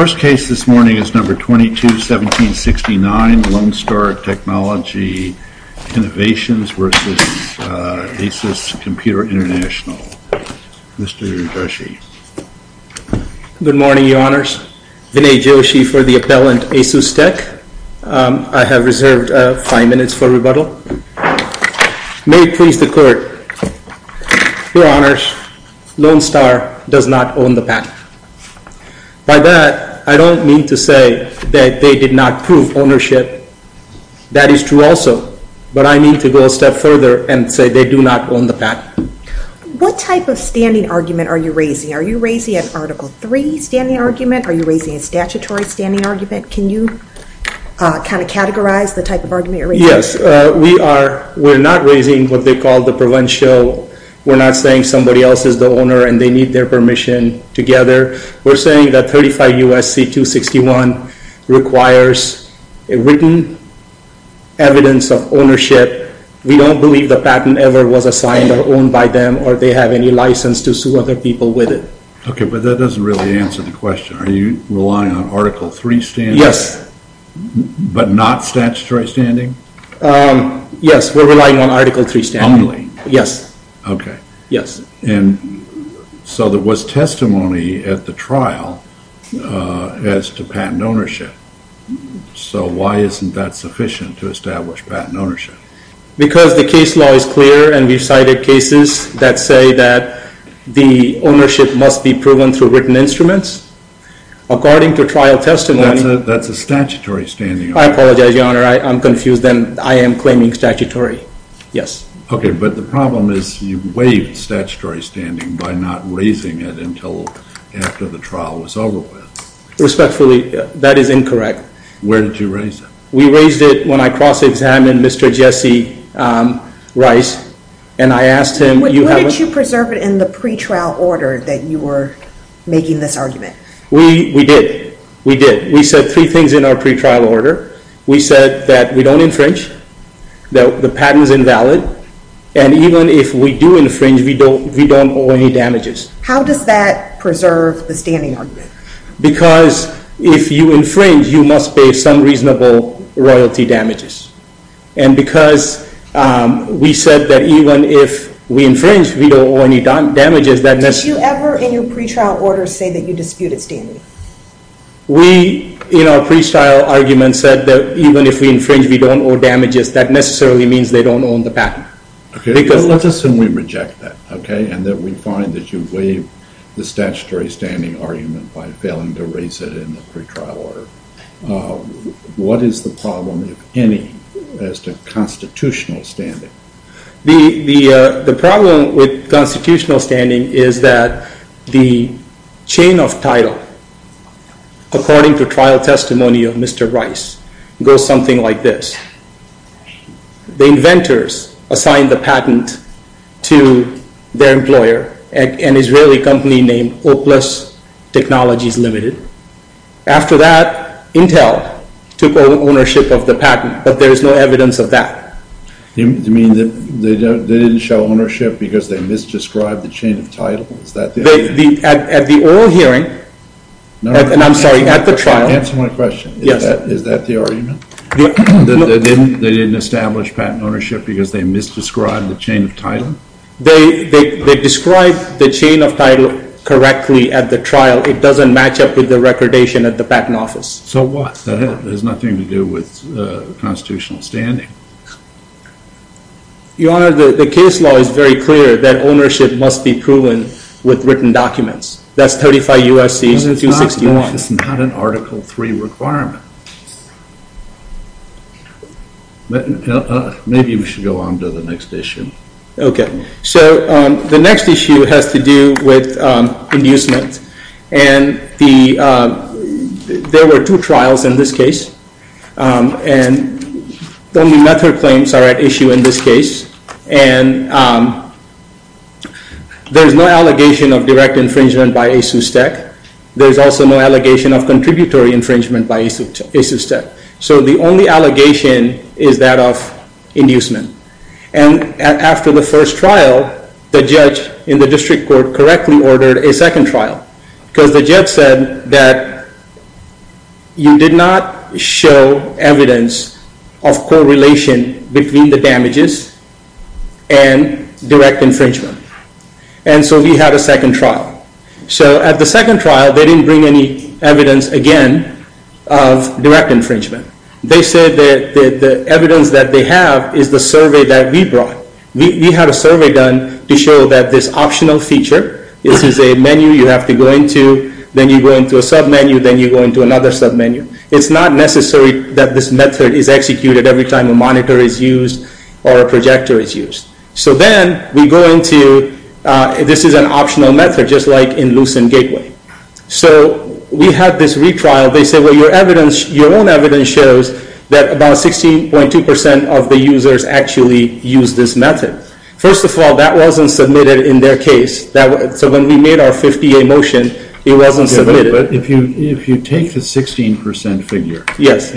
The first case this morning is No. 22-1769, Lone Star Technology Innovations v. ASUS Computer International. Mr. Joshi. Good morning, Your Honors. Vinay Joshi for the appellant ASUS Tech. I have reserved five minutes for rebuttal. May it please the Court. Your Honors, Lone Star does not own the patent. By that, I don't mean to say that they did not prove ownership. That is true also, but I mean to go a step further and say they do not own the patent. What type of standing argument are you raising? Are you raising an Article 3 standing argument? Are you raising a statutory standing argument? Can you kind of categorize the type of argument you're raising? Yes. We're not raising what they call the provincial. We're not saying somebody else is the owner and they need their permission together. We're saying that 35 U.S.C. 261 requires written evidence of ownership. We don't believe the patent ever was assigned or owned by them or they have any license to sue other people with it. Okay, but that doesn't really answer the question. Are you relying on Article 3 standing? Yes. But not statutory standing? Yes, we're relying on Article 3 standing. Yes. Okay. Yes. And so there was testimony at the trial as to patent ownership. So why isn't that sufficient to establish patent ownership? Because the case law is clear and we've cited cases that say that the ownership must be proven through written instruments. According to trial testimony… That's a statutory standing argument. I apologize, Your Honor. I'm confused and I am claiming statutory. Yes. Okay, but the problem is you waived statutory standing by not raising it until after the trial was over with. Respectfully, that is incorrect. Where did you raise it? We raised it when I cross-examined Mr. Jesse Rice and I asked him… But what did you preserve in the pretrial order that you were making this argument? We did. We did. We said three things in our pretrial order. We said that we don't infringe, that the patent is invalid, and even if we do infringe, we don't owe any damages. How does that preserve the standing argument? Because if you infringe, you must pay some reasonable royalty damages. And because we said that even if we infringe, we don't owe any damages, that necessarily… Did you ever in your pretrial order say that you disputed standing? We, in our pretrial argument, said that even if we infringe, we don't owe damages. That necessarily means they don't own the patent. Let's assume we reject that and that we find that you waived the statutory standing argument by failing to raise it in the pretrial order. What is the problem, if any, as to constitutional standing? The problem with constitutional standing is that the chain of title, according to trial testimony of Mr. Rice, goes something like this. The inventors assigned the patent to their employer, an Israeli company named Oplus Technologies Limited. After that, Intel took ownership of the patent, but there is no evidence of that. Do you mean that they didn't show ownership because they misdescribed the chain of title? Is that the argument? At the oral hearing, and I'm sorry, at the trial… Answer my question. Yes. Is that the argument? They didn't establish patent ownership because they misdescribed the chain of title? They described the chain of title correctly at the trial. It doesn't match up with the recordation at the patent office. So what? That has nothing to do with constitutional standing. Your Honor, the case law is very clear that ownership must be proven with written documents. That's 35 U.S.C. 261. That's not an Article III requirement. Maybe we should go on to the next issue. Okay. So the next issue has to do with inducement. And there were two trials in this case, and the method claims are at issue in this case. And there's no allegation of direct infringement by ASUSTEC. There's also no allegation of contributory infringement by ASUSTEC. So the only allegation is that of inducement. And after the first trial, the judge in the district court correctly ordered a second trial. Because the judge said that you did not show evidence of correlation between the damages and direct infringement. And so we had a second trial. So at the second trial, they didn't bring any evidence again of direct infringement. They said that the evidence that they have is the survey that we brought. We had a survey done to show that this optional feature, this is a menu you have to go into, then you go into a submenu, then you go into another submenu. It's not necessary that this method is executed every time a monitor is used or a projector is used. So then we go into this is an optional method, just like in Lucent Gateway. So we had this retrial. They said, well, your own evidence shows that about 16.2% of the users actually use this method. First of all, that wasn't submitted in their case. So when we made our 50-day motion, it wasn't submitted. But if you take the 16% figure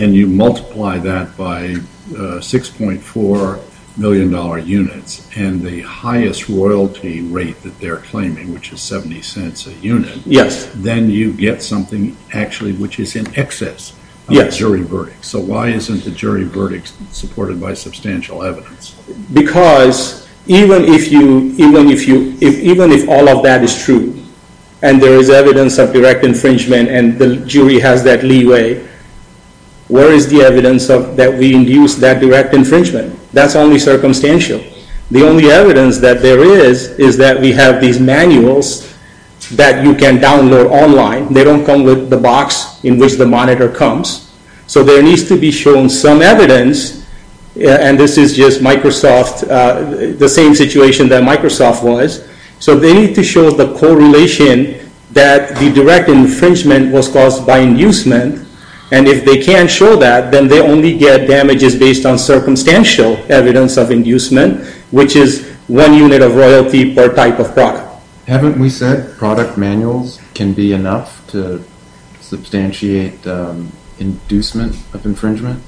and you multiply that by $6.4 million units and the highest royalty rate that they're claiming, which is $0.70 a unit, then you get something actually which is in excess of a jury verdict. So why isn't the jury verdict supported by substantial evidence? Because even if all of that is true and there is evidence of direct infringement and the jury has that leeway, where is the evidence that we induced that direct infringement? That's only circumstantial. The only evidence that there is is that we have these manuals that you can download online. They don't come with the box in which the monitor comes. So there needs to be shown some evidence. And this is just Microsoft, the same situation that Microsoft was. So they need to show the correlation that the direct infringement was caused by inducement. And if they can't show that, then they only get damages based on circumstantial evidence of inducement, which is one unit of royalty per type of product. Haven't we said product manuals can be enough to substantiate inducement of infringement?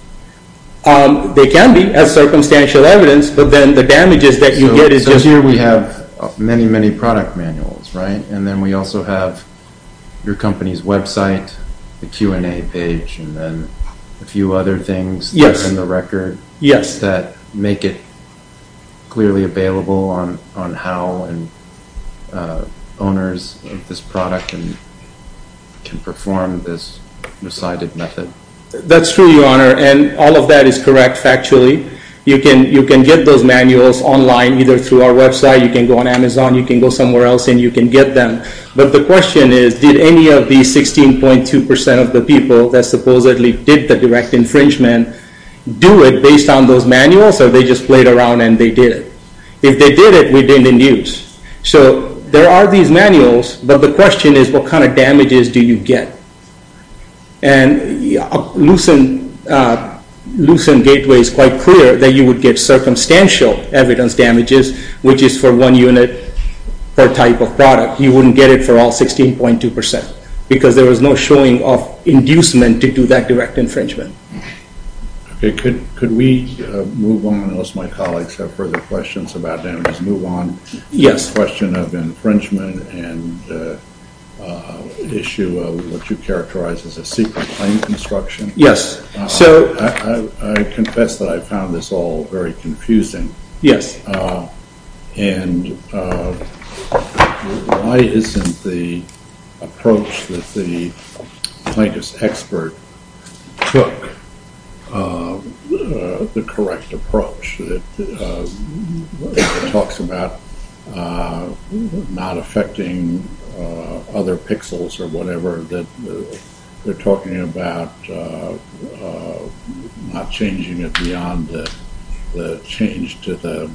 They can be as circumstantial evidence, but then the damages that you get is just... So here we have many, many product manuals, right? And then we also have your company's website, the Q&A page, and then a few other things in the record... ...that make it clearly available on how owners of this product can perform this decided method. That's true, Your Honor, and all of that is correct factually. You can get those manuals online either through our website, you can go on Amazon, you can go somewhere else, and you can get them. But the question is, did any of these 16.2% of the people that supposedly did the direct infringement do it based on those manuals, or they just played around and they did it? If they did it, we didn't induce. So there are these manuals, but the question is, what kind of damages do you get? And Lucent Gateway is quite clear that you would get circumstantial evidence damages, which is for one unit per type of product. You wouldn't get it for all 16.2%, because there was no showing of inducement to do that direct infringement. Okay, could we move on unless my colleagues have further questions about damages? Move on to the question of infringement and the issue of what you characterize as a secret claim construction. Yes. I confess that I found this all very confusing. Yes. And why isn't the approach that the plaintiff's expert took the correct approach? It talks about not affecting other pixels or whatever, or that they're talking about not changing it beyond the change to the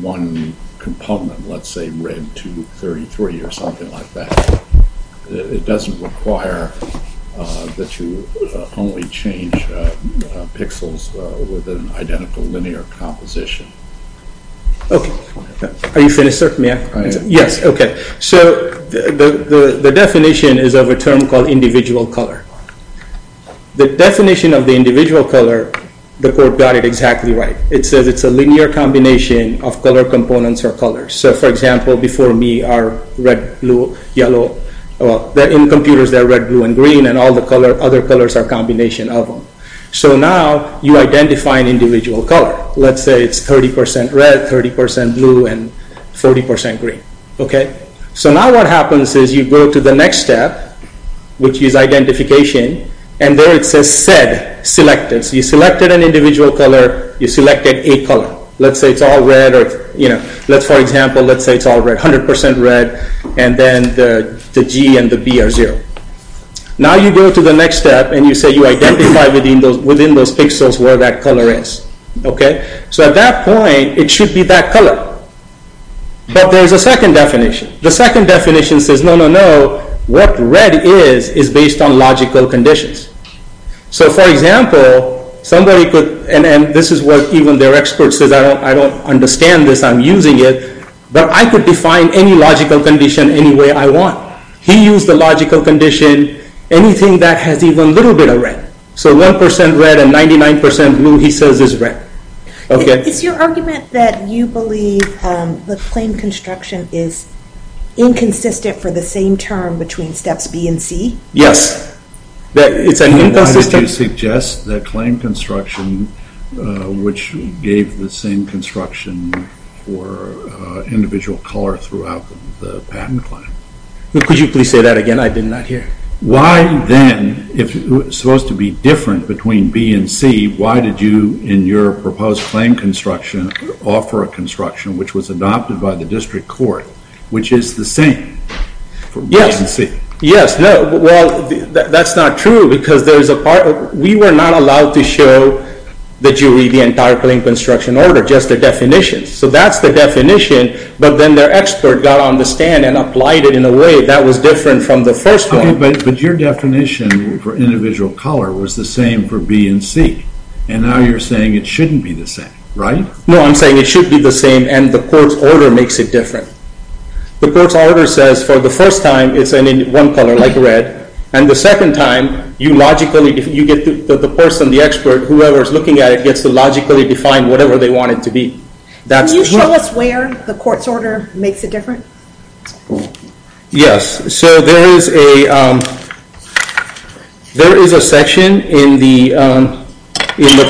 one component, let's say red 233 or something like that. It doesn't require that you only change pixels with an identical linear composition. Are you finished, sir? Yes, okay. So the definition is of a term called individual color. The definition of the individual color, the court got it exactly right. It says it's a linear combination of color components or colors. So, for example, before me are red, blue, yellow. In computers, they're red, blue, and green, and all the other colors are a combination of them. So now you identify an individual color. Let's say it's 30% red, 30% blue, and 40% green, okay? So now what happens is you go to the next step, which is identification, and there it says said selected. So you selected an individual color. You selected a color. Let's say it's all red or, you know, let's, for example, let's say it's all red, 100% red, and then the G and the B are zero. Now you go to the next step, and you say you identify within those pixels where that color is, okay? So at that point, it should be that color. But there's a second definition. The second definition says, no, no, no, what red is is based on logical conditions. So, for example, somebody could, and this is what even their expert says, I don't understand this. I'm using it. But I could define any logical condition any way I want. He used the logical condition, anything that has even a little bit of red. So 1% red and 99% blue he says is red. Is your argument that you believe the claim construction is inconsistent for the same term between steps B and C? Yes. Why did you suggest the claim construction, which gave the same construction for individual color throughout the patent claim? Could you please say that again? I did not hear. Why then, if it was supposed to be different between B and C, why did you, in your proposed claim construction, offer a construction which was adopted by the district court, which is the same for B and C? Well, that's not true because we were not allowed to show the jury the entire claim construction order, just the definition. So that's the definition, but then their expert got on the stand and applied it in a way that was different from the first one. But your definition for individual color was the same for B and C, and now you're saying it shouldn't be the same, right? No, I'm saying it should be the same, and the court's order makes it different. The court's order says for the first time it's one color, like red, and the second time you get the person, the expert, whoever is looking at it, gets to logically define whatever they want it to be. Can you show us where the court's order makes it different? Yes, so there is a section in the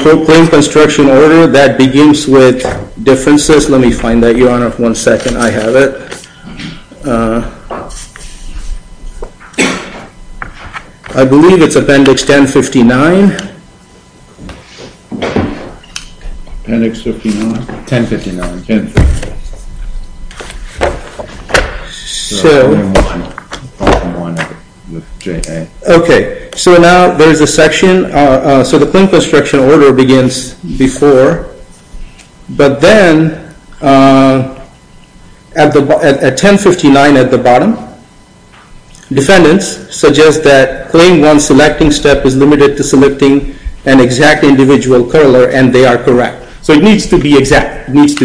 proclaimed construction order that begins with differences. Let me find that, Your Honor. One second, I have it. I believe it's Appendix 1059. Appendix 1059. Okay, so now there's a section, so the claim construction order begins before, but then at 1059 at the bottom, defendants suggest that claim one selecting step is limited to selecting an exact individual color, and they are correct, so it needs to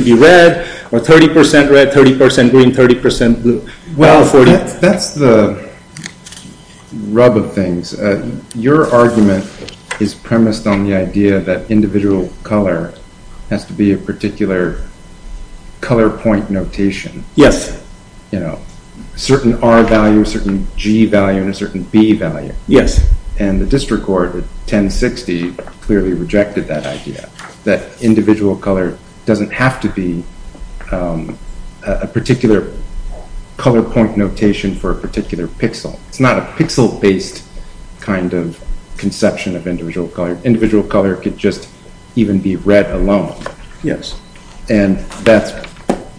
be red, or 30% red, 30% green, 30% blue. Well, that's the rub of things. Your argument is premised on the idea that individual color has to be a particular color point notation. Yes. You know, certain R value, certain G value, and a certain B value. Yes. And the district court at 1060 clearly rejected that idea, that individual color doesn't have to be a particular color point notation for a particular pixel. It's not a pixel-based kind of conception of individual color. Individual color could just even be red alone. Yes. And that's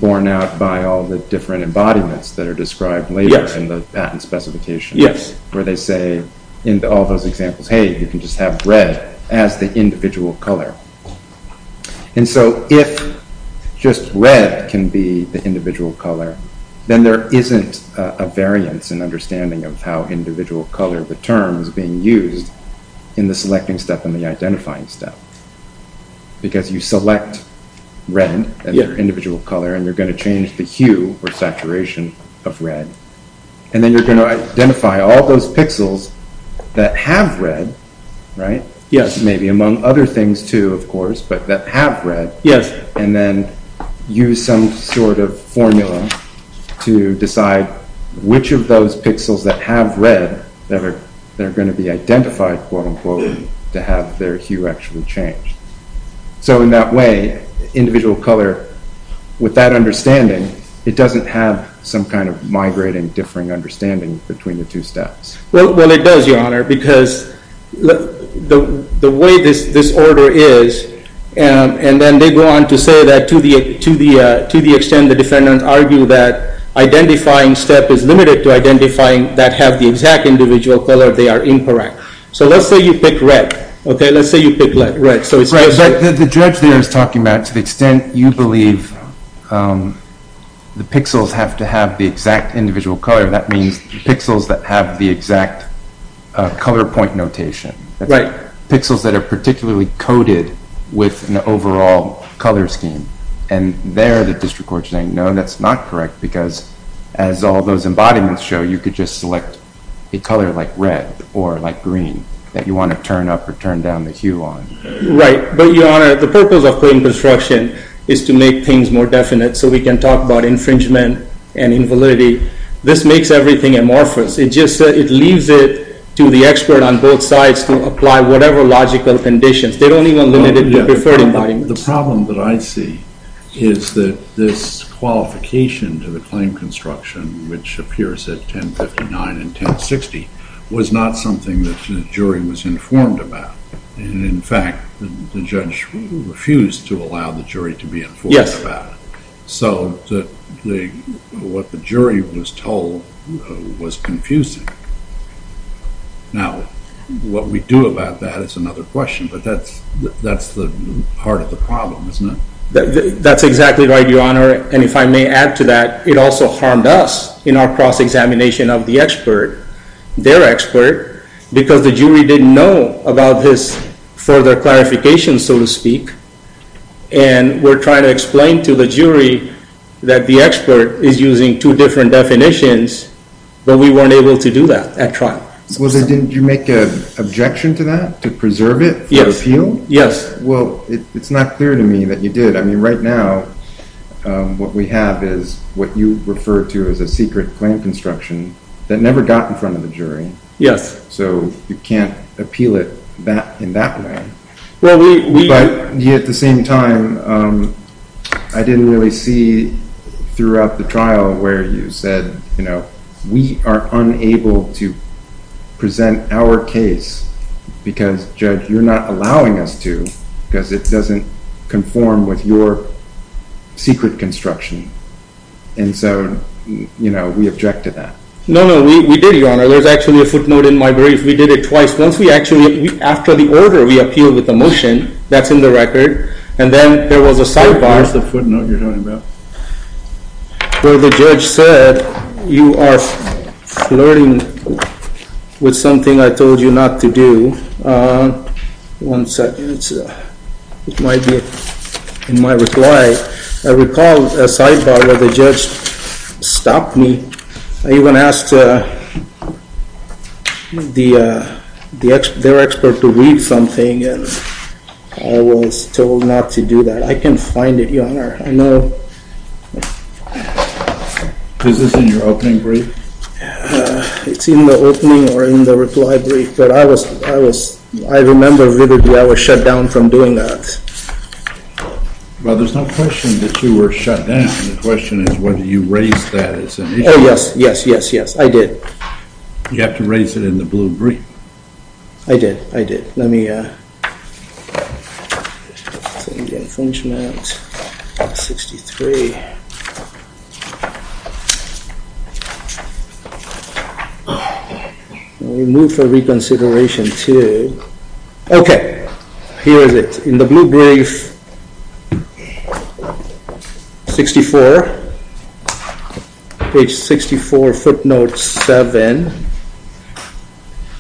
borne out by all the different embodiments that are described later in the patent specification. Yes. Where they say, in all those examples, hey, you can just have red as the individual color. And so if just red can be the individual color, then there isn't a variance in understanding of how individual color, the term, is being used in the selecting step and the identifying step. Because you select red as your individual color, and you're going to change the hue or saturation of red. And then you're going to identify all those pixels that have red, right? Yes. Maybe among other things, too, of course, but that have red. Yes. And then use some sort of formula to decide which of those pixels that have red that are going to be identified, quote, unquote, to have their hue actually change. So in that way, individual color, with that understanding, it doesn't have some kind of migrating, differing understanding between the two steps. Well, it does, Your Honor, because the way this order is, and then they go on to say that to the extent the defendants argue that identifying step is limited to identifying that have the exact individual color, they are incorrect. So let's say you pick red, okay? Let's say you pick red. The judge there is talking about to the extent you believe the pixels have to have the exact individual color. That means pixels that have the exact color point notation. Right. Pixels that are particularly coded with an overall color scheme. And there the district court is saying, no, that's not correct, because as all those embodiments show, you could just select a color like red or like green that you want to turn up or turn down the hue on. Right. But, Your Honor, the purpose of coding construction is to make things more definite so we can talk about infringement and invalidity. This makes everything amorphous. It just leaves it to the expert on both sides to apply whatever logical conditions. They don't even limit it to preferred embodiments. The problem that I see is that this qualification to the claim construction, which appears at 1059 and 1060, was not something that the jury was informed about. In fact, the judge refused to allow the jury to be informed about it. So what the jury was told was confusing. Now, what we do about that is another question, but that's the heart of the problem, isn't it? That's exactly right, Your Honor. And if I may add to that, it also harmed us in our cross-examination of the expert, their expert, because the jury didn't know about this further clarification, so to speak. And we're trying to explain to the jury that the expert is using two different definitions, but we weren't able to do that at trial. Did you make an objection to that, to preserve it for appeal? Yes. Well, it's not clear to me that you did. I mean, right now, what we have is what you refer to as a secret claim construction that never got in front of the jury. Yes. So you can't appeal it in that way. But yet, at the same time, I didn't really see throughout the trial where you said, you know, we are unable to present our case because, Judge, you're not allowing us to because it doesn't conform with your secret construction. And so, you know, we object to that. No, no, we did, Your Honor. There's actually a footnote in my brief. We did it twice. Once we actually, after the order, we appealed with a motion. That's in the record. And then there was a sidebar. What's the footnote you're talking about? Where the judge said, you are flirting with something I told you not to do. One second. It might be in my reply. I recall a sidebar where the judge stopped me. I even asked their expert to read something, and I was told not to do that. I can find it, Your Honor. I know. Is this in your opening brief? It's in the opening or in the reply brief. But I remember vividly I was shut down from doing that. Well, there's no question that you were shut down. The question is whether you raised that. Oh, yes, yes, yes, yes. I did. You have to raise it in the blue brief. I did. I did. Let me see the infringement. We move for reconsideration, too. Okay. Here is it. In the blue brief, 64, page 64, footnote 7,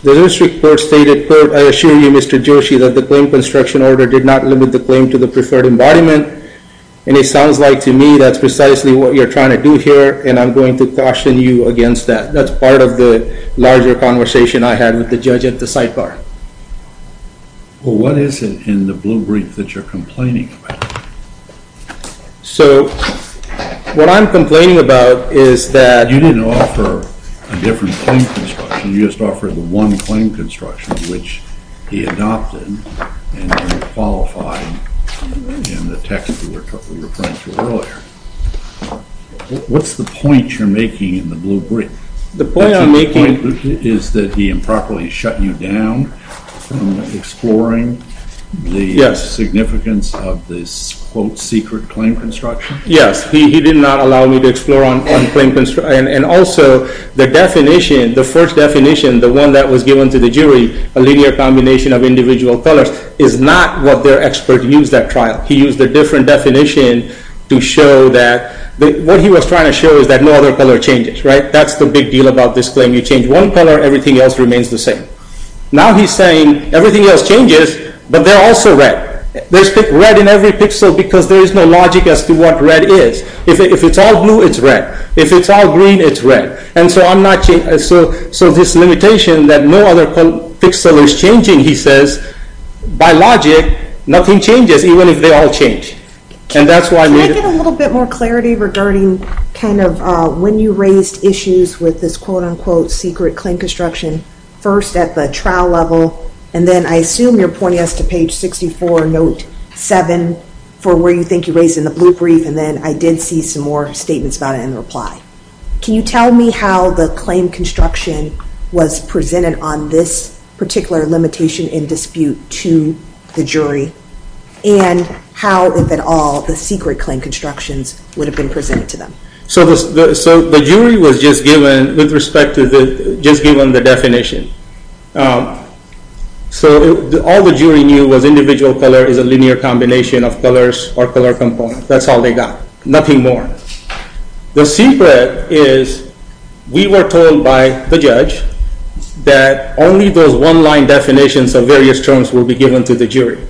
the district court stated, I assure you, Mr. Joshi, that the claim construction order did not limit the claim to the preferred embodiment. And it sounds like to me that's precisely what you're trying to do here, and I'm going to caution you against that. That's part of the larger conversation I had with the judge at the sidebar. Well, what is it in the blue brief that you're complaining about? So what I'm complaining about is that you didn't offer a different claim construction. You just offered the one claim construction, which he adopted and qualified in the text that we were referring to earlier. What's the point you're making in the blue brief? The point I'm making is that he improperly shut you down from exploring the significance of this, quote, secret claim construction. Yes. He did not allow me to explore on claim construction. And also, the definition, the first definition, the one that was given to the jury, a linear combination of individual colors, is not what their expert used at trial. He used a different definition to show that what he was trying to show is that no other color changes. That's the big deal about this claim. You change one color, everything else remains the same. Now he's saying everything else changes, but they're also red. There's red in every pixel because there is no logic as to what red is. If it's all blue, it's red. If it's all green, it's red. And so this limitation that no other pixel is changing, he says, by logic, nothing changes, even if they all change. Can I get a little bit more clarity regarding kind of when you raised issues with this, quote, unquote, secret claim construction? First at the trial level, and then I assume you're pointing us to page 64, note 7, for where you think you raised in the blue brief, and then I did see some more statements about it in the reply. Can you tell me how the claim construction was presented on this particular limitation in dispute to the jury? And how, if at all, the secret claim constructions would have been presented to them? So the jury was just given the definition. So all the jury knew was individual color is a linear combination of colors or color components. That's all they got, nothing more. The secret is we were told by the judge that only those one-line definitions of various terms will be given to the jury.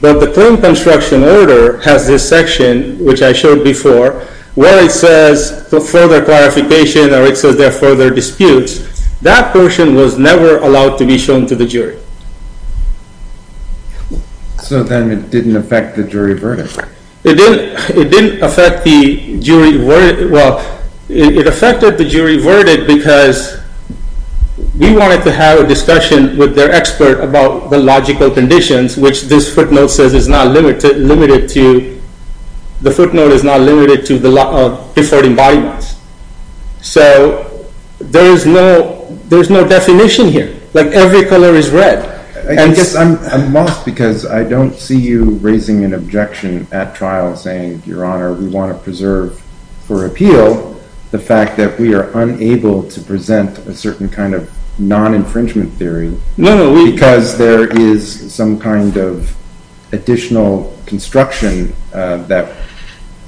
But the claim construction order has this section, which I showed before, where it says further clarification, or it says there are further disputes. That portion was never allowed to be shown to the jury. So then it didn't affect the jury verdict. It didn't affect the jury verdict. Well, it affected the jury verdict because we wanted to have a discussion with their expert about the logical conditions, which this footnote says is not limited to the defaulting body mass. So there is no definition here. Like, every color is red. I guess I'm lost because I don't see you raising an objection at trial saying, Your Honor, we want to preserve for appeal the fact that we are unable to present a certain kind of non-infringement theory because there is some kind of additional construction that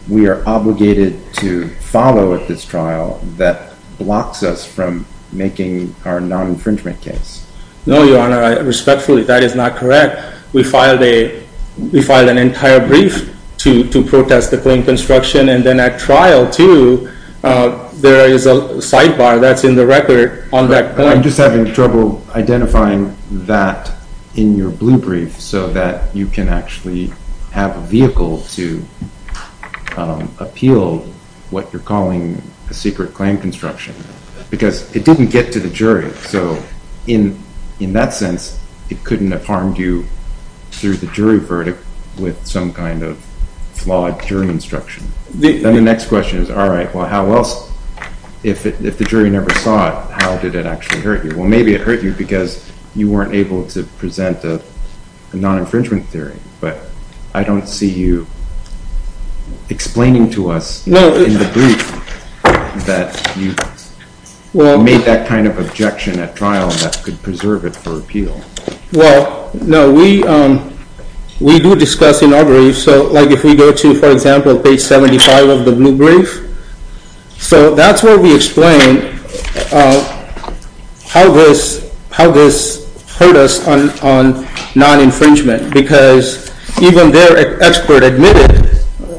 we are obligated to follow at this trial that blocks us from making our non-infringement case. No, Your Honor. Respectfully, that is not correct. We filed an entire brief to protest the claim construction. And then at trial, too, there is a sidebar that's in the record on that claim. I'm just having trouble identifying that in your blue brief so that you can actually have a vehicle to appeal what you're calling a secret claim construction because it didn't get to the jury. So in that sense, it couldn't have harmed you through the jury verdict with some kind of flawed jury instruction. Then the next question is, all right, well, how else? If the jury never saw it, how did it actually hurt you? Well, maybe it hurt you because you weren't able to present a non-infringement theory. But I don't see you explaining to us in the brief that you made that kind of objection at trial that could preserve it for appeal. Well, no, we do discuss in our brief. So if we go to, for example, page 75 of the blue brief, so that's where we explain how this hurt us on non-infringement because even their expert admitted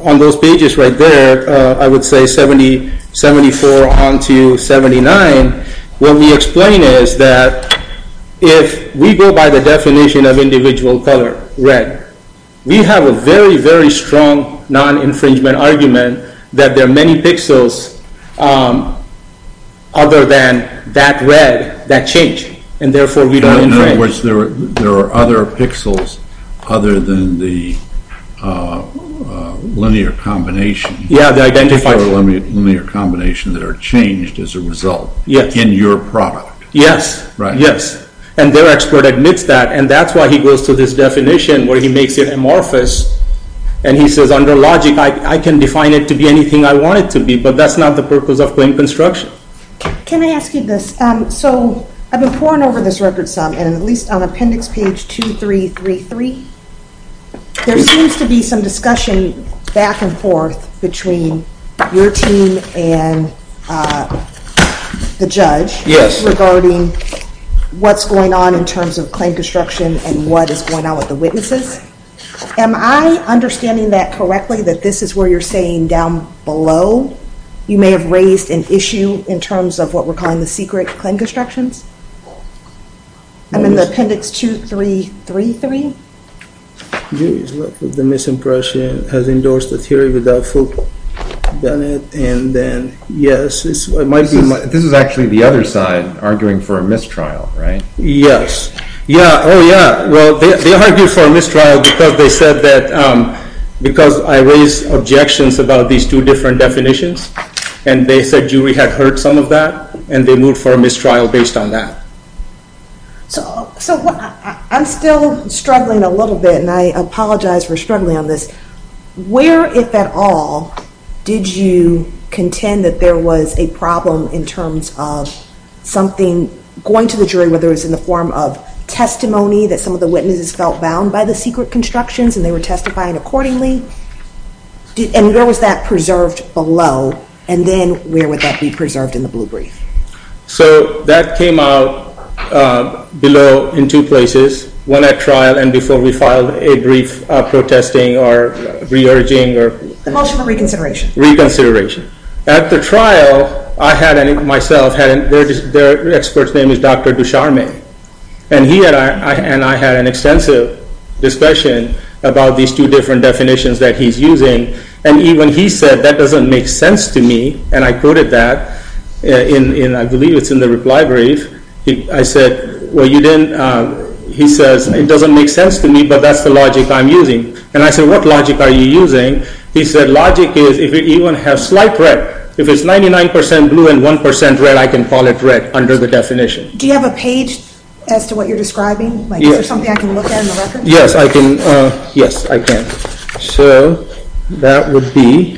on those pages right there, I would say 74 on to 79, what we explain is that if we go by the definition of individual color, red, we have a very, very strong non-infringement argument that there are many pixels other than that red that change. And therefore, we don't infringe. In other words, there are other pixels other than the linear combination that are changed as a result in your product. Yes, and their expert admits that, and that's why he goes to this definition where he makes it amorphous, and he says under logic, I can define it to be anything I want it to be, but that's not the purpose of claim construction. Can I ask you this? So I've been poring over this record some, and at least on appendix page 2333, there seems to be some discussion back and forth between your team and the judge regarding what's going on in terms of claim construction and what is going on with the witnesses. Am I understanding that correctly that this is where you're saying down below you may have raised an issue in terms of what we're calling the secret claim constructions? I'm in the appendix 2333. The misimpression has endorsed a theory without full benefit, and then, yes, it might be. This is actually the other side arguing for a mistrial, right? Yes. Yeah, oh, yeah. Well, they argue for a mistrial because I raised objections about these two different definitions, and they said jury had heard some of that, and they moved for a mistrial based on that. So I'm still struggling a little bit, and I apologize for struggling on this. Where, if at all, did you contend that there was a problem in terms of something going to the jury, whether it was in the form of testimony that some of the witnesses felt bound by the secret constructions and they were testifying accordingly, and where was that preserved below, and then where would that be preserved in the blue brief? So that came out below in two places, one at trial and before we filed a brief protesting or re-urging. The motion for reconsideration. Reconsideration. At the trial, I had myself, their expert's name is Dr. Dusharmay, and he and I had an extensive discussion about these two different definitions that he's using, and even he said, that doesn't make sense to me, and I quoted that, and I believe it's in the reply brief. I said, well, you didn't, he says, it doesn't make sense to me, but that's the logic I'm using. And I said, what logic are you using? He said, logic is if you even have slight red, if it's 99% blue and 1% red, I can call it red under the definition. Do you have a page as to what you're describing? Is there something I can look at in the record? Yes, I can. So that would be.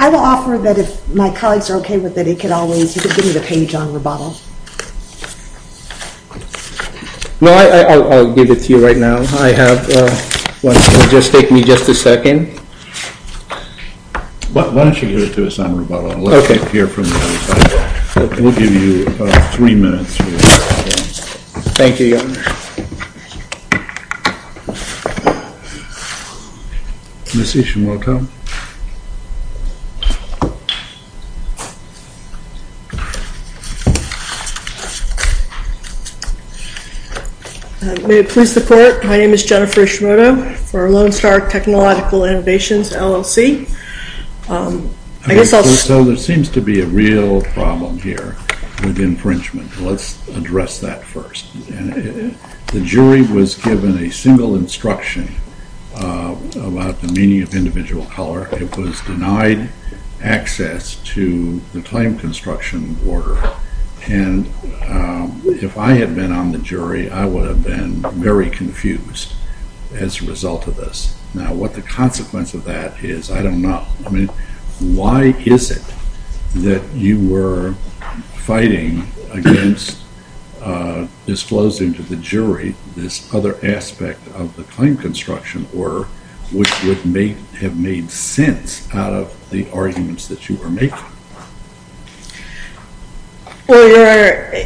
I will offer that if my colleagues are okay with it, you can give me the page on rebuttal. No, I'll give it to you right now. I have one. It'll just take me just a second. Why don't you give it to us on rebuttal? Okay. We'll give you three minutes. Thank you, Your Honor. Ms. Ishimoto. May it please the Court, my name is Jennifer Ishimoto for Lone Star Technological Innovations, LLC. So there seems to be a real problem here with infringement. Let's address that first. The jury was given a single instruction about the meaning of individual color. It was denied access to the claim construction order. And if I had been on the jury, I would have been very confused as a result of this. Now what the consequence of that is, I don't know. I mean, why is it that you were fighting against disclosing to the jury this other aspect of the claim construction order, which would have made sense out of the arguments that you were making? Well, Your Honor,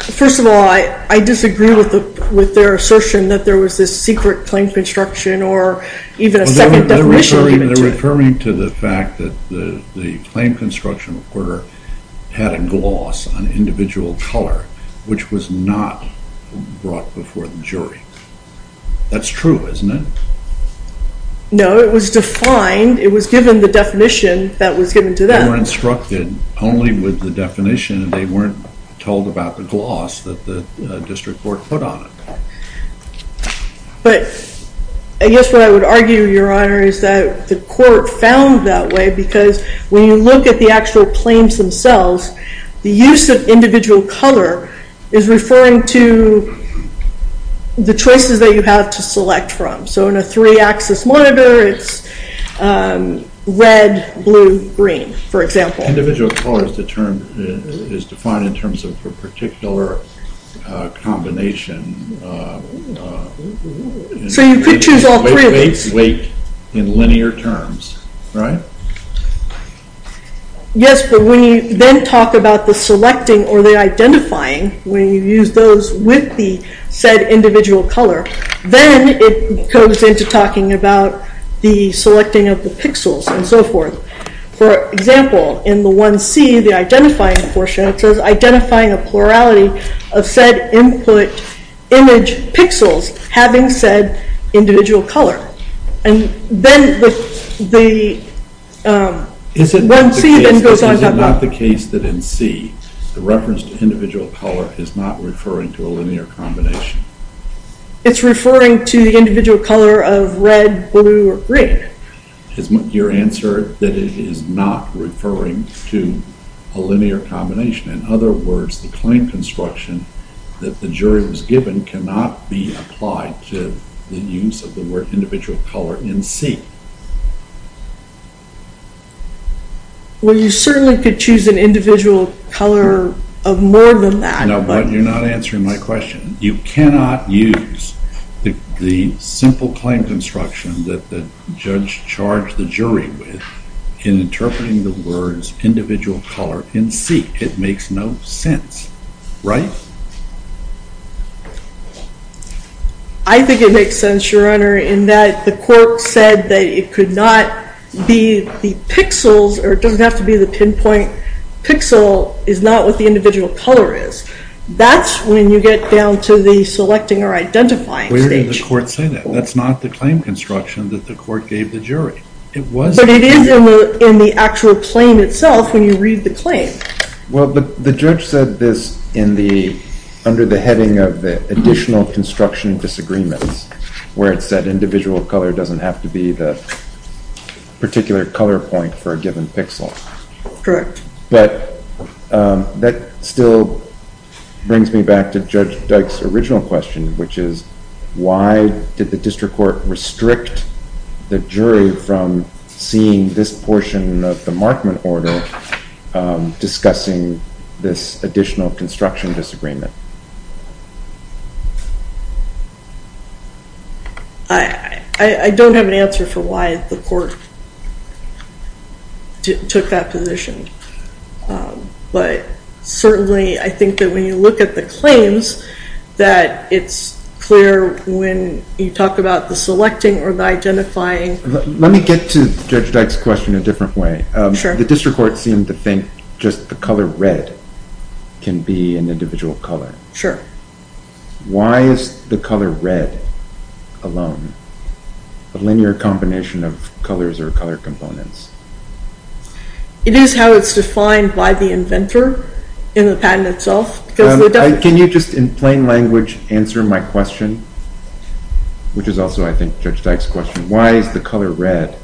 first of all, I disagree with their assertion that there was this secret claim construction or even a second definition of it. They're referring to the fact that the claim construction order had a gloss on individual color, which was not brought before the jury. That's true, isn't it? No, it was defined. It was given the definition that was given to them. They were instructed only with the definition, and they weren't told about the gloss that the district court put on it. But I guess what I would argue, Your Honor, is that the court found that way because when you look at the actual claims themselves, the use of individual color is referring to the choices that you have to select from. So in a three-axis monitor, it's red, blue, green, for example. Individual color is defined in terms of a particular combination. So you could choose all three of these. Weight in linear terms, right? Yes, but when you then talk about the selecting or the identifying, when you use those with the said individual color, then it goes into talking about the selecting of the pixels and so forth. For example, in the 1C, the identifying portion, it says identifying a plurality of said input image pixels having said individual color. And then the 1C then goes on and on. Is it not the case that in C, the reference to individual color is not referring to a linear combination? It's referring to the individual color of red, blue, or green. Is your answer that it is not referring to a linear combination? In other words, the claim construction that the jury was given cannot be applied to the use of the word individual color in C. Well, you certainly could choose an individual color of more than that. No, but you're not answering my question. You cannot use the simple claim construction that the judge charged the jury with in interpreting the words individual color in C. It makes no sense, right? I think it makes sense, Your Honor, in that the court said that it could not be the pixels, or it doesn't have to be the pinpoint pixel, is not what the individual color is. That's when you get down to the selecting or identifying stage. Where did the court say that? That's not the claim construction that the court gave the jury. But it is in the actual claim itself when you read the claim. Well, the judge said this under the heading of the additional construction disagreements where it said individual color doesn't have to be the particular color point for a given pixel. Correct. But that still brings me back to Judge Dyke's original question, which is why did the district court restrict the jury from seeing this portion of the markment order discussing this additional construction disagreement? I don't have an answer for why the court took that position. But certainly I think that when you look at the claims, that it's clear when you talk about the selecting or the identifying. Let me get to Judge Dyke's question a different way. Sure. The district court seemed to think just the color red can be an individual color. Sure. Why is the color red alone a linear combination of colors or color components? It is how it's defined by the inventor in the patent itself. Can you just in plain language answer my question, which is also I think Judge Dyke's question. Why is the color red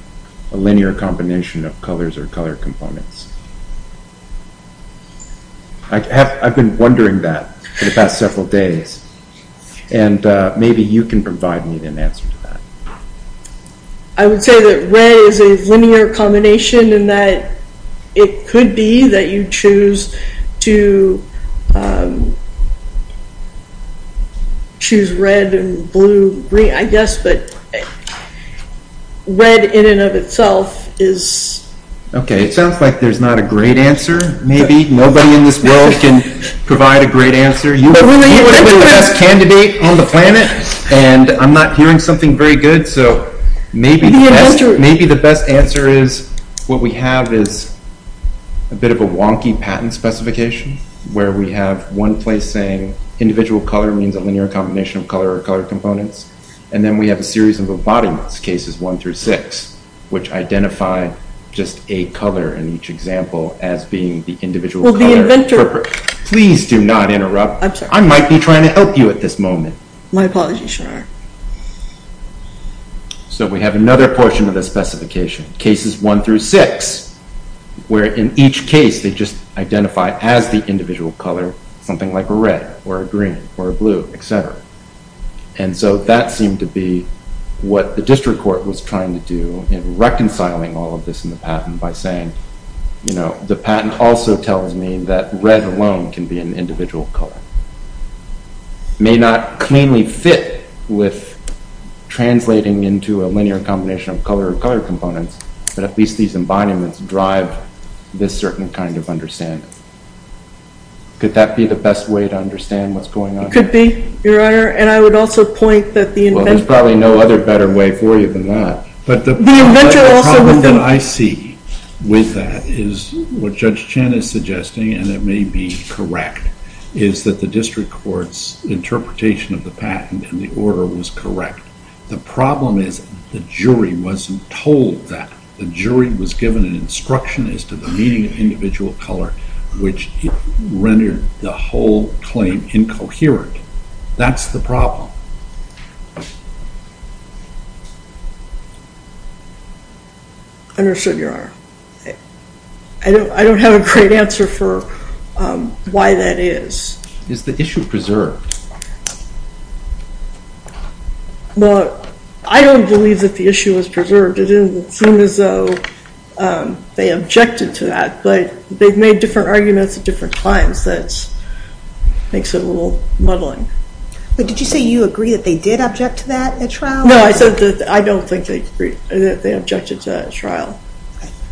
a linear combination of colors or color components? I've been wondering that for the past several days. And maybe you can provide me an answer to that. I would say that red is a linear combination in that it could be that you choose to choose red and blue, green, I guess. But red in and of itself is. Okay. It sounds like there's not a great answer maybe. Nobody in this world can provide a great answer. You would be the best candidate on the planet, and I'm not hearing something very good. So maybe the best answer is what we have is a bit of a wonky patent specification where we have one place saying individual color means a linear combination of color or color components. And then we have a series of embodiments, cases one through six, which identify just a color in each example as being the individual color. Will the inventor… Please do not interrupt. I'm sorry. I might be trying to help you at this moment. My apologies, sir. So we have another portion of the specification, cases one through six, where in each case they just identify as the individual color something like a red or a green or a blue, et cetera. And so that seemed to be what the district court was trying to do in reconciling all of this in the patent by saying, you know, the patent also tells me that red alone can be an individual color. It may not cleanly fit with translating into a linear combination of color or color components, but at least these embodiments drive this certain kind of understanding. Could that be the best way to understand what's going on here? It could be, Your Honor, and I would also point that the inventor… Well, there's probably no other better way for you than that. But the problem that I see with that is what Judge Chan is suggesting, and it may be correct, is that the district court's interpretation of the patent and the order was correct. The problem is the jury wasn't told that. The jury was given an instruction as to the meaning of individual color, which rendered the whole claim incoherent. That's the problem. Understood, Your Honor. I don't have a great answer for why that is. Is the issue preserved? Well, I don't believe that the issue is preserved. It doesn't seem as though they objected to that, but they've made different arguments at different times. That makes it a little muddling. But did you say you agree that they did object to that at trial? No, I said that I don't think they objected to that at trial.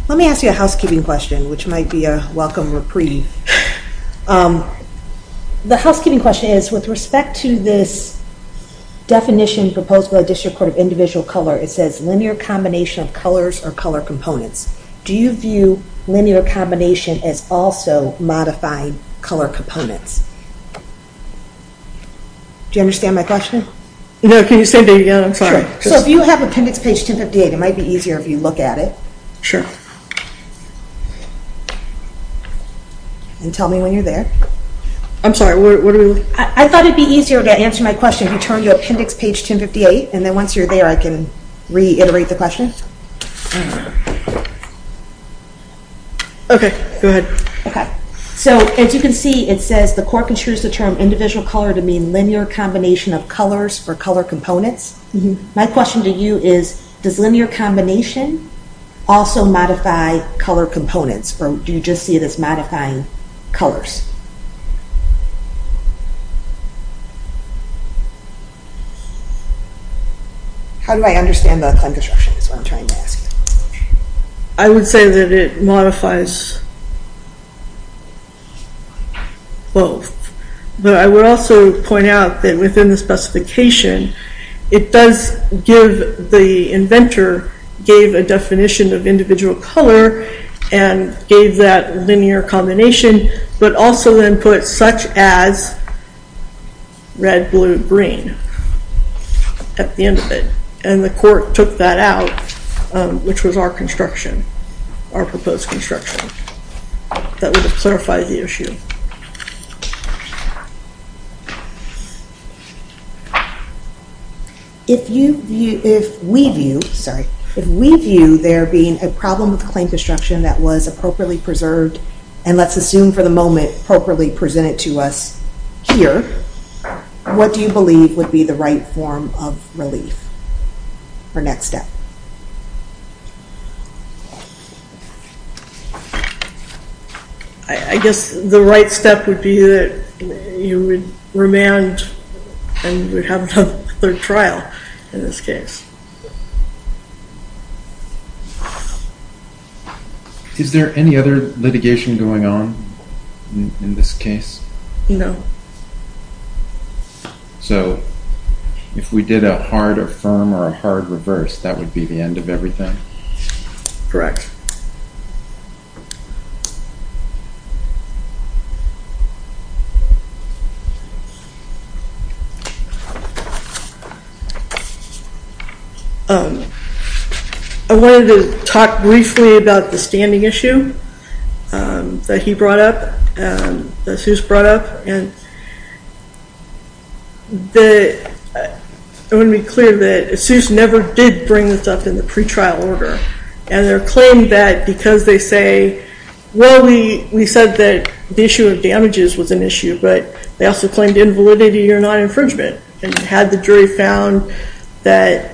Let me ask you a housekeeping question, which might be a welcome reprieve. The housekeeping question is, with respect to this definition proposed by the District Court of Individual Color, it says linear combination of colors or color components. Do you view linear combination as also modifying color components? Do you understand my question? No, can you say that again? I'm sorry. Sure. So if you have appendix page 1058, it might be easier if you look at it. Sure. And tell me when you're there. I'm sorry, what are we looking at? I thought it would be easier to answer my question if you turn to appendix page 1058, and then once you're there, I can reiterate the question. Okay, go ahead. So as you can see, it says the court construes the term individual color to mean linear combination of colors or color components. My question to you is, does linear combination also modify color components, or do you just see it as modifying colors? How do I understand the term construction is what I'm trying to ask. I would say that it modifies both. But I would also point out that within the specification, it does give the inventor gave a definition of individual color and gave that linear combination, but also then put such as red, blue, green. At the end of it. And the court took that out, which was our construction, our proposed construction. That would clarify the issue. If we view there being a problem with claim construction that was appropriately preserved, and let's assume for the moment appropriately presented to us here, what do you believe would be the right form of relief or next step? I guess the right step would be that you would remand and we'd have a third trial in this case. Is there any other litigation going on in this case? No. So if we did a hard or firm or a hard reverse, that would be the end of everything? Correct. I wanted to talk briefly about the standing issue that he brought up. And I want to be clear that ASUS never did bring this up in the pre-trial order. And their claim that because they say, well, we said that the issue of damages was an issue, but they also claimed invalidity or non-infringement. And had the jury found that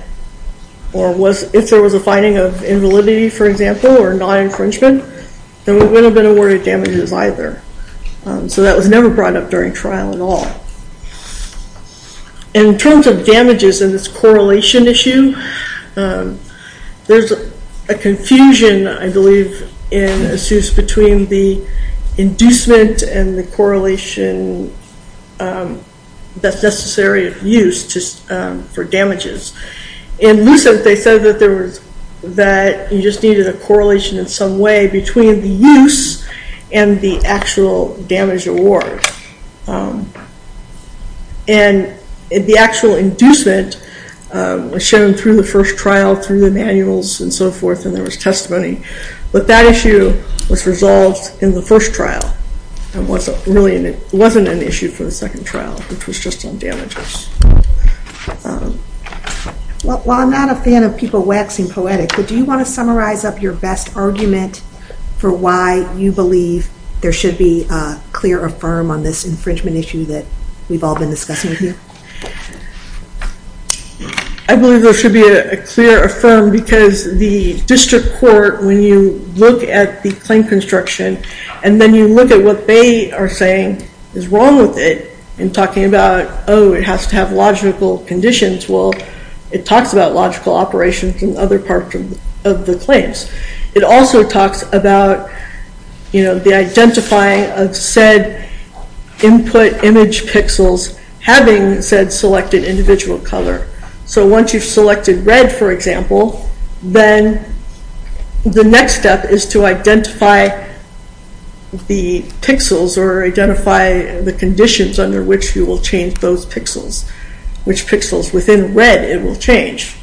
or if there was a finding of invalidity, for example, or non-infringement, then we wouldn't have been aware of damages either. So that was never brought up during trial at all. In terms of damages in this correlation issue, there's a confusion, I believe, in ASUS between the inducement and the correlation that's necessary of use for damages. In Lucent, they said that you just needed a correlation in some way between the use and the actual damage award. And the actual inducement was shown through the first trial, through the manuals and so forth, and there was testimony. But that issue was resolved in the first trial and wasn't an issue for the second trial, which was just on damages. Well, I'm not a fan of people waxing poetic, but do you want to summarize up your best argument for why you believe there should be a clear affirm on this infringement issue that we've all been discussing here? I believe there should be a clear affirm because the district court, when you look at the claim construction and then you look at what they are saying is wrong with it and talking about, oh, it has to have logical conditions. Well, it talks about logical operations and other parts of the claims. It also talks about the identifying of said input image pixels having said selected individual color. So once you've selected red, for example, then the next step is to identify the pixels or identify the conditions under which you will change those pixels, which pixels within red it will change.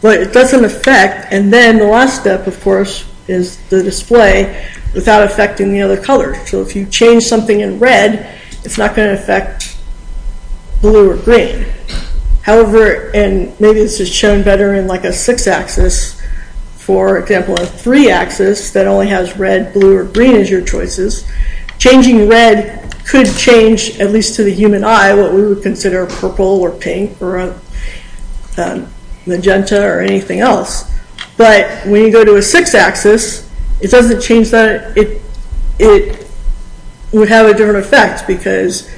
But it doesn't affect. And then the last step, of course, is the display without affecting the other color. So if you change something in red, it's not going to affect blue or green. However, and maybe this is shown better in like a six axis. For example, a three axis that only has red, blue, or green as your choices, changing red could change at least to the human eye what we would consider purple or pink or magenta or anything else. But when you go to a six axis, it doesn't change that. It would have a different effect because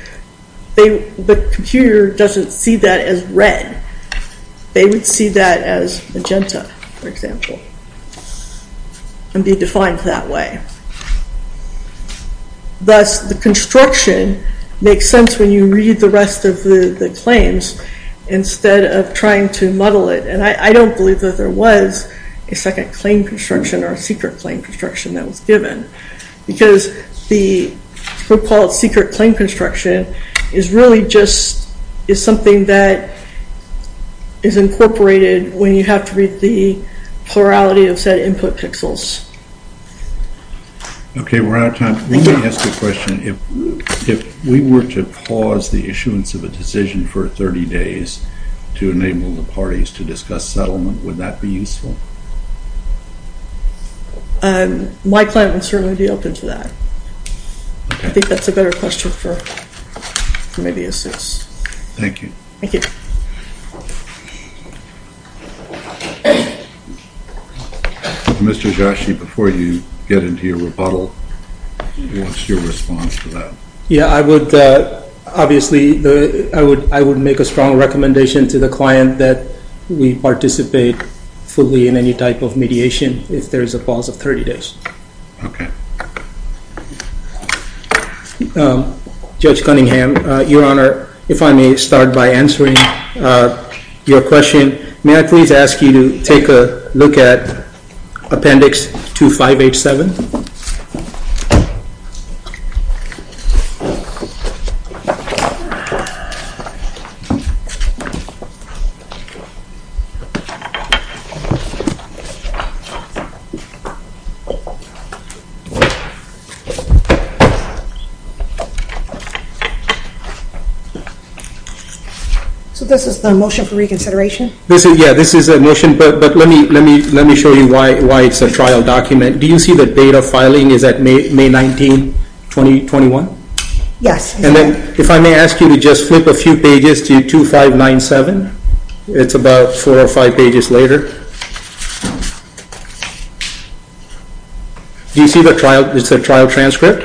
the computer doesn't see that as red. They would see that as magenta, for example, and be defined that way. Thus, the construction makes sense when you read the rest of the claims instead of trying to muddle it. And I don't believe that there was a second claim construction or a secret claim construction that was given because the so-called secret claim construction is really just is something that is incorporated when you have to read the plurality of said input pixels. Okay, we're out of time. Let me ask you a question. If we were to pause the issuance of a decision for 30 days to enable the parties to discuss settlement, would that be useful? My client would certainly be open to that. I think that's a better question for maybe a six. Thank you. Thank you. Mr. Joshi, before you get into your rebuttal, what's your response to that? Yeah, obviously, I would make a strong recommendation to the client that we participate fully in any type of mediation if there is a pause of 30 days. Okay. Judge Cunningham, Your Honor, if I may start by answering your question, may I please ask you to take a look at Appendix 2587? So this is the motion for reconsideration? Yeah, this is the motion, but let me show you why it's a trial document. Do you see the date of filing is at May 19, 2021? Yes. And then if I may ask you to just flip a few pages to 2597. It's about four or five pages later. Do you see the trial? It's a trial transcript?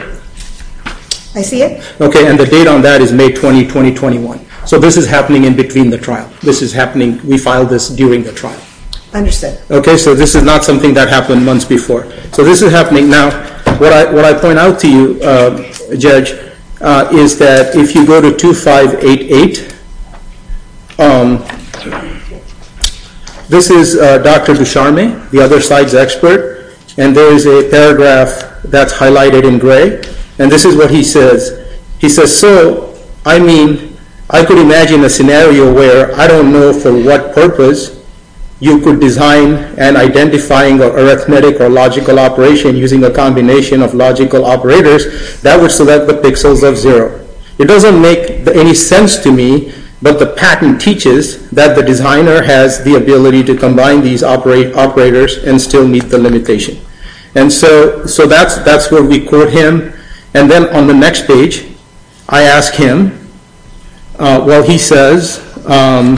I see it. Okay, and the date on that is May 20, 2021. So this is happening in between the trial. This is happening, we filed this during the trial. Understood. Okay, so this is not something that happened months before. So this is happening now. What I point out to you, Judge, is that if you go to 2588, this is Dr. Dusharme, the other side's expert, and there is a paragraph that's highlighted in gray. And this is what he says. He says, so, I mean, I could imagine a scenario where I don't know for what purpose you could design and identify an arithmetic or logical operation using a combination of logical operators that would select the pixels of zero. It doesn't make any sense to me, but the patent teaches that the designer has the ability to combine these operators and still meet the limitation. And so that's where we quote him. And then on the next page, I ask him, well, he says, I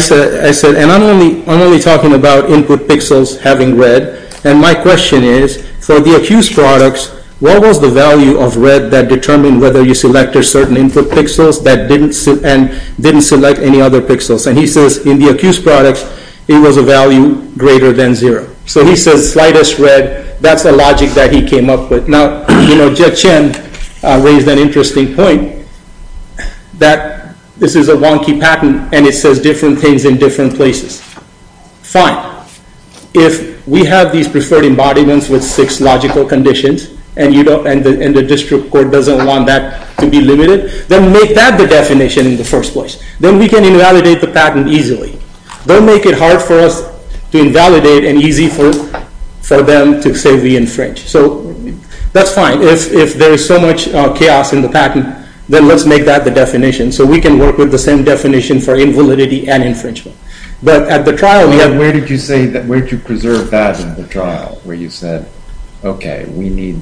said, and I'm only talking about input pixels having red. And my question is, for the accused products, what was the value of red that determined whether you selected certain input pixels and didn't select any other pixels? And he says, in the accused products, it was a value greater than zero. So he says, slightest red, that's the logic that he came up with. Now, you know, Judge Chen raised an interesting point. That this is a wonky patent, and it says different things in different places. Fine. If we have these preferred embodiments with six logical conditions, and the district court doesn't want that to be limited, then make that the definition in the first place. Then we can invalidate the patent easily. Don't make it hard for us to invalidate and easy for them to say we infringed. So that's fine. But if there is so much chaos in the patent, then let's make that the definition. So we can work with the same definition for invalidity and infringement. But at the trial, we have- Where did you say, where did you preserve that in the trial? Where you said, okay, we need-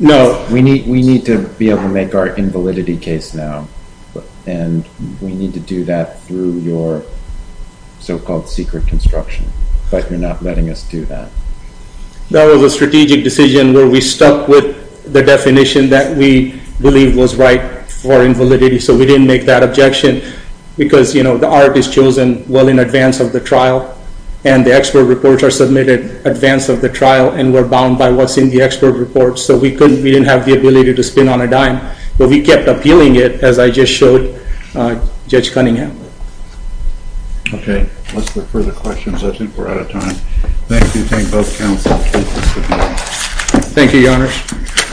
No. We need to be able to make our invalidity case now. And we need to do that through your so-called secret construction. But you're not letting us do that. That was a strategic decision where we stuck with the definition that we believe was right for invalidity. So we didn't make that objection. Because, you know, the art is chosen well in advance of the trial, and the expert reports are submitted in advance of the trial, and we're bound by what's in the expert report. So we didn't have the ability to spin on a dime. But we kept appealing it, as I just showed Judge Cunningham. Okay. Let's look for the questions. I think we're out of time. Thank you. Thank both counsels. Thank you, Your Honors.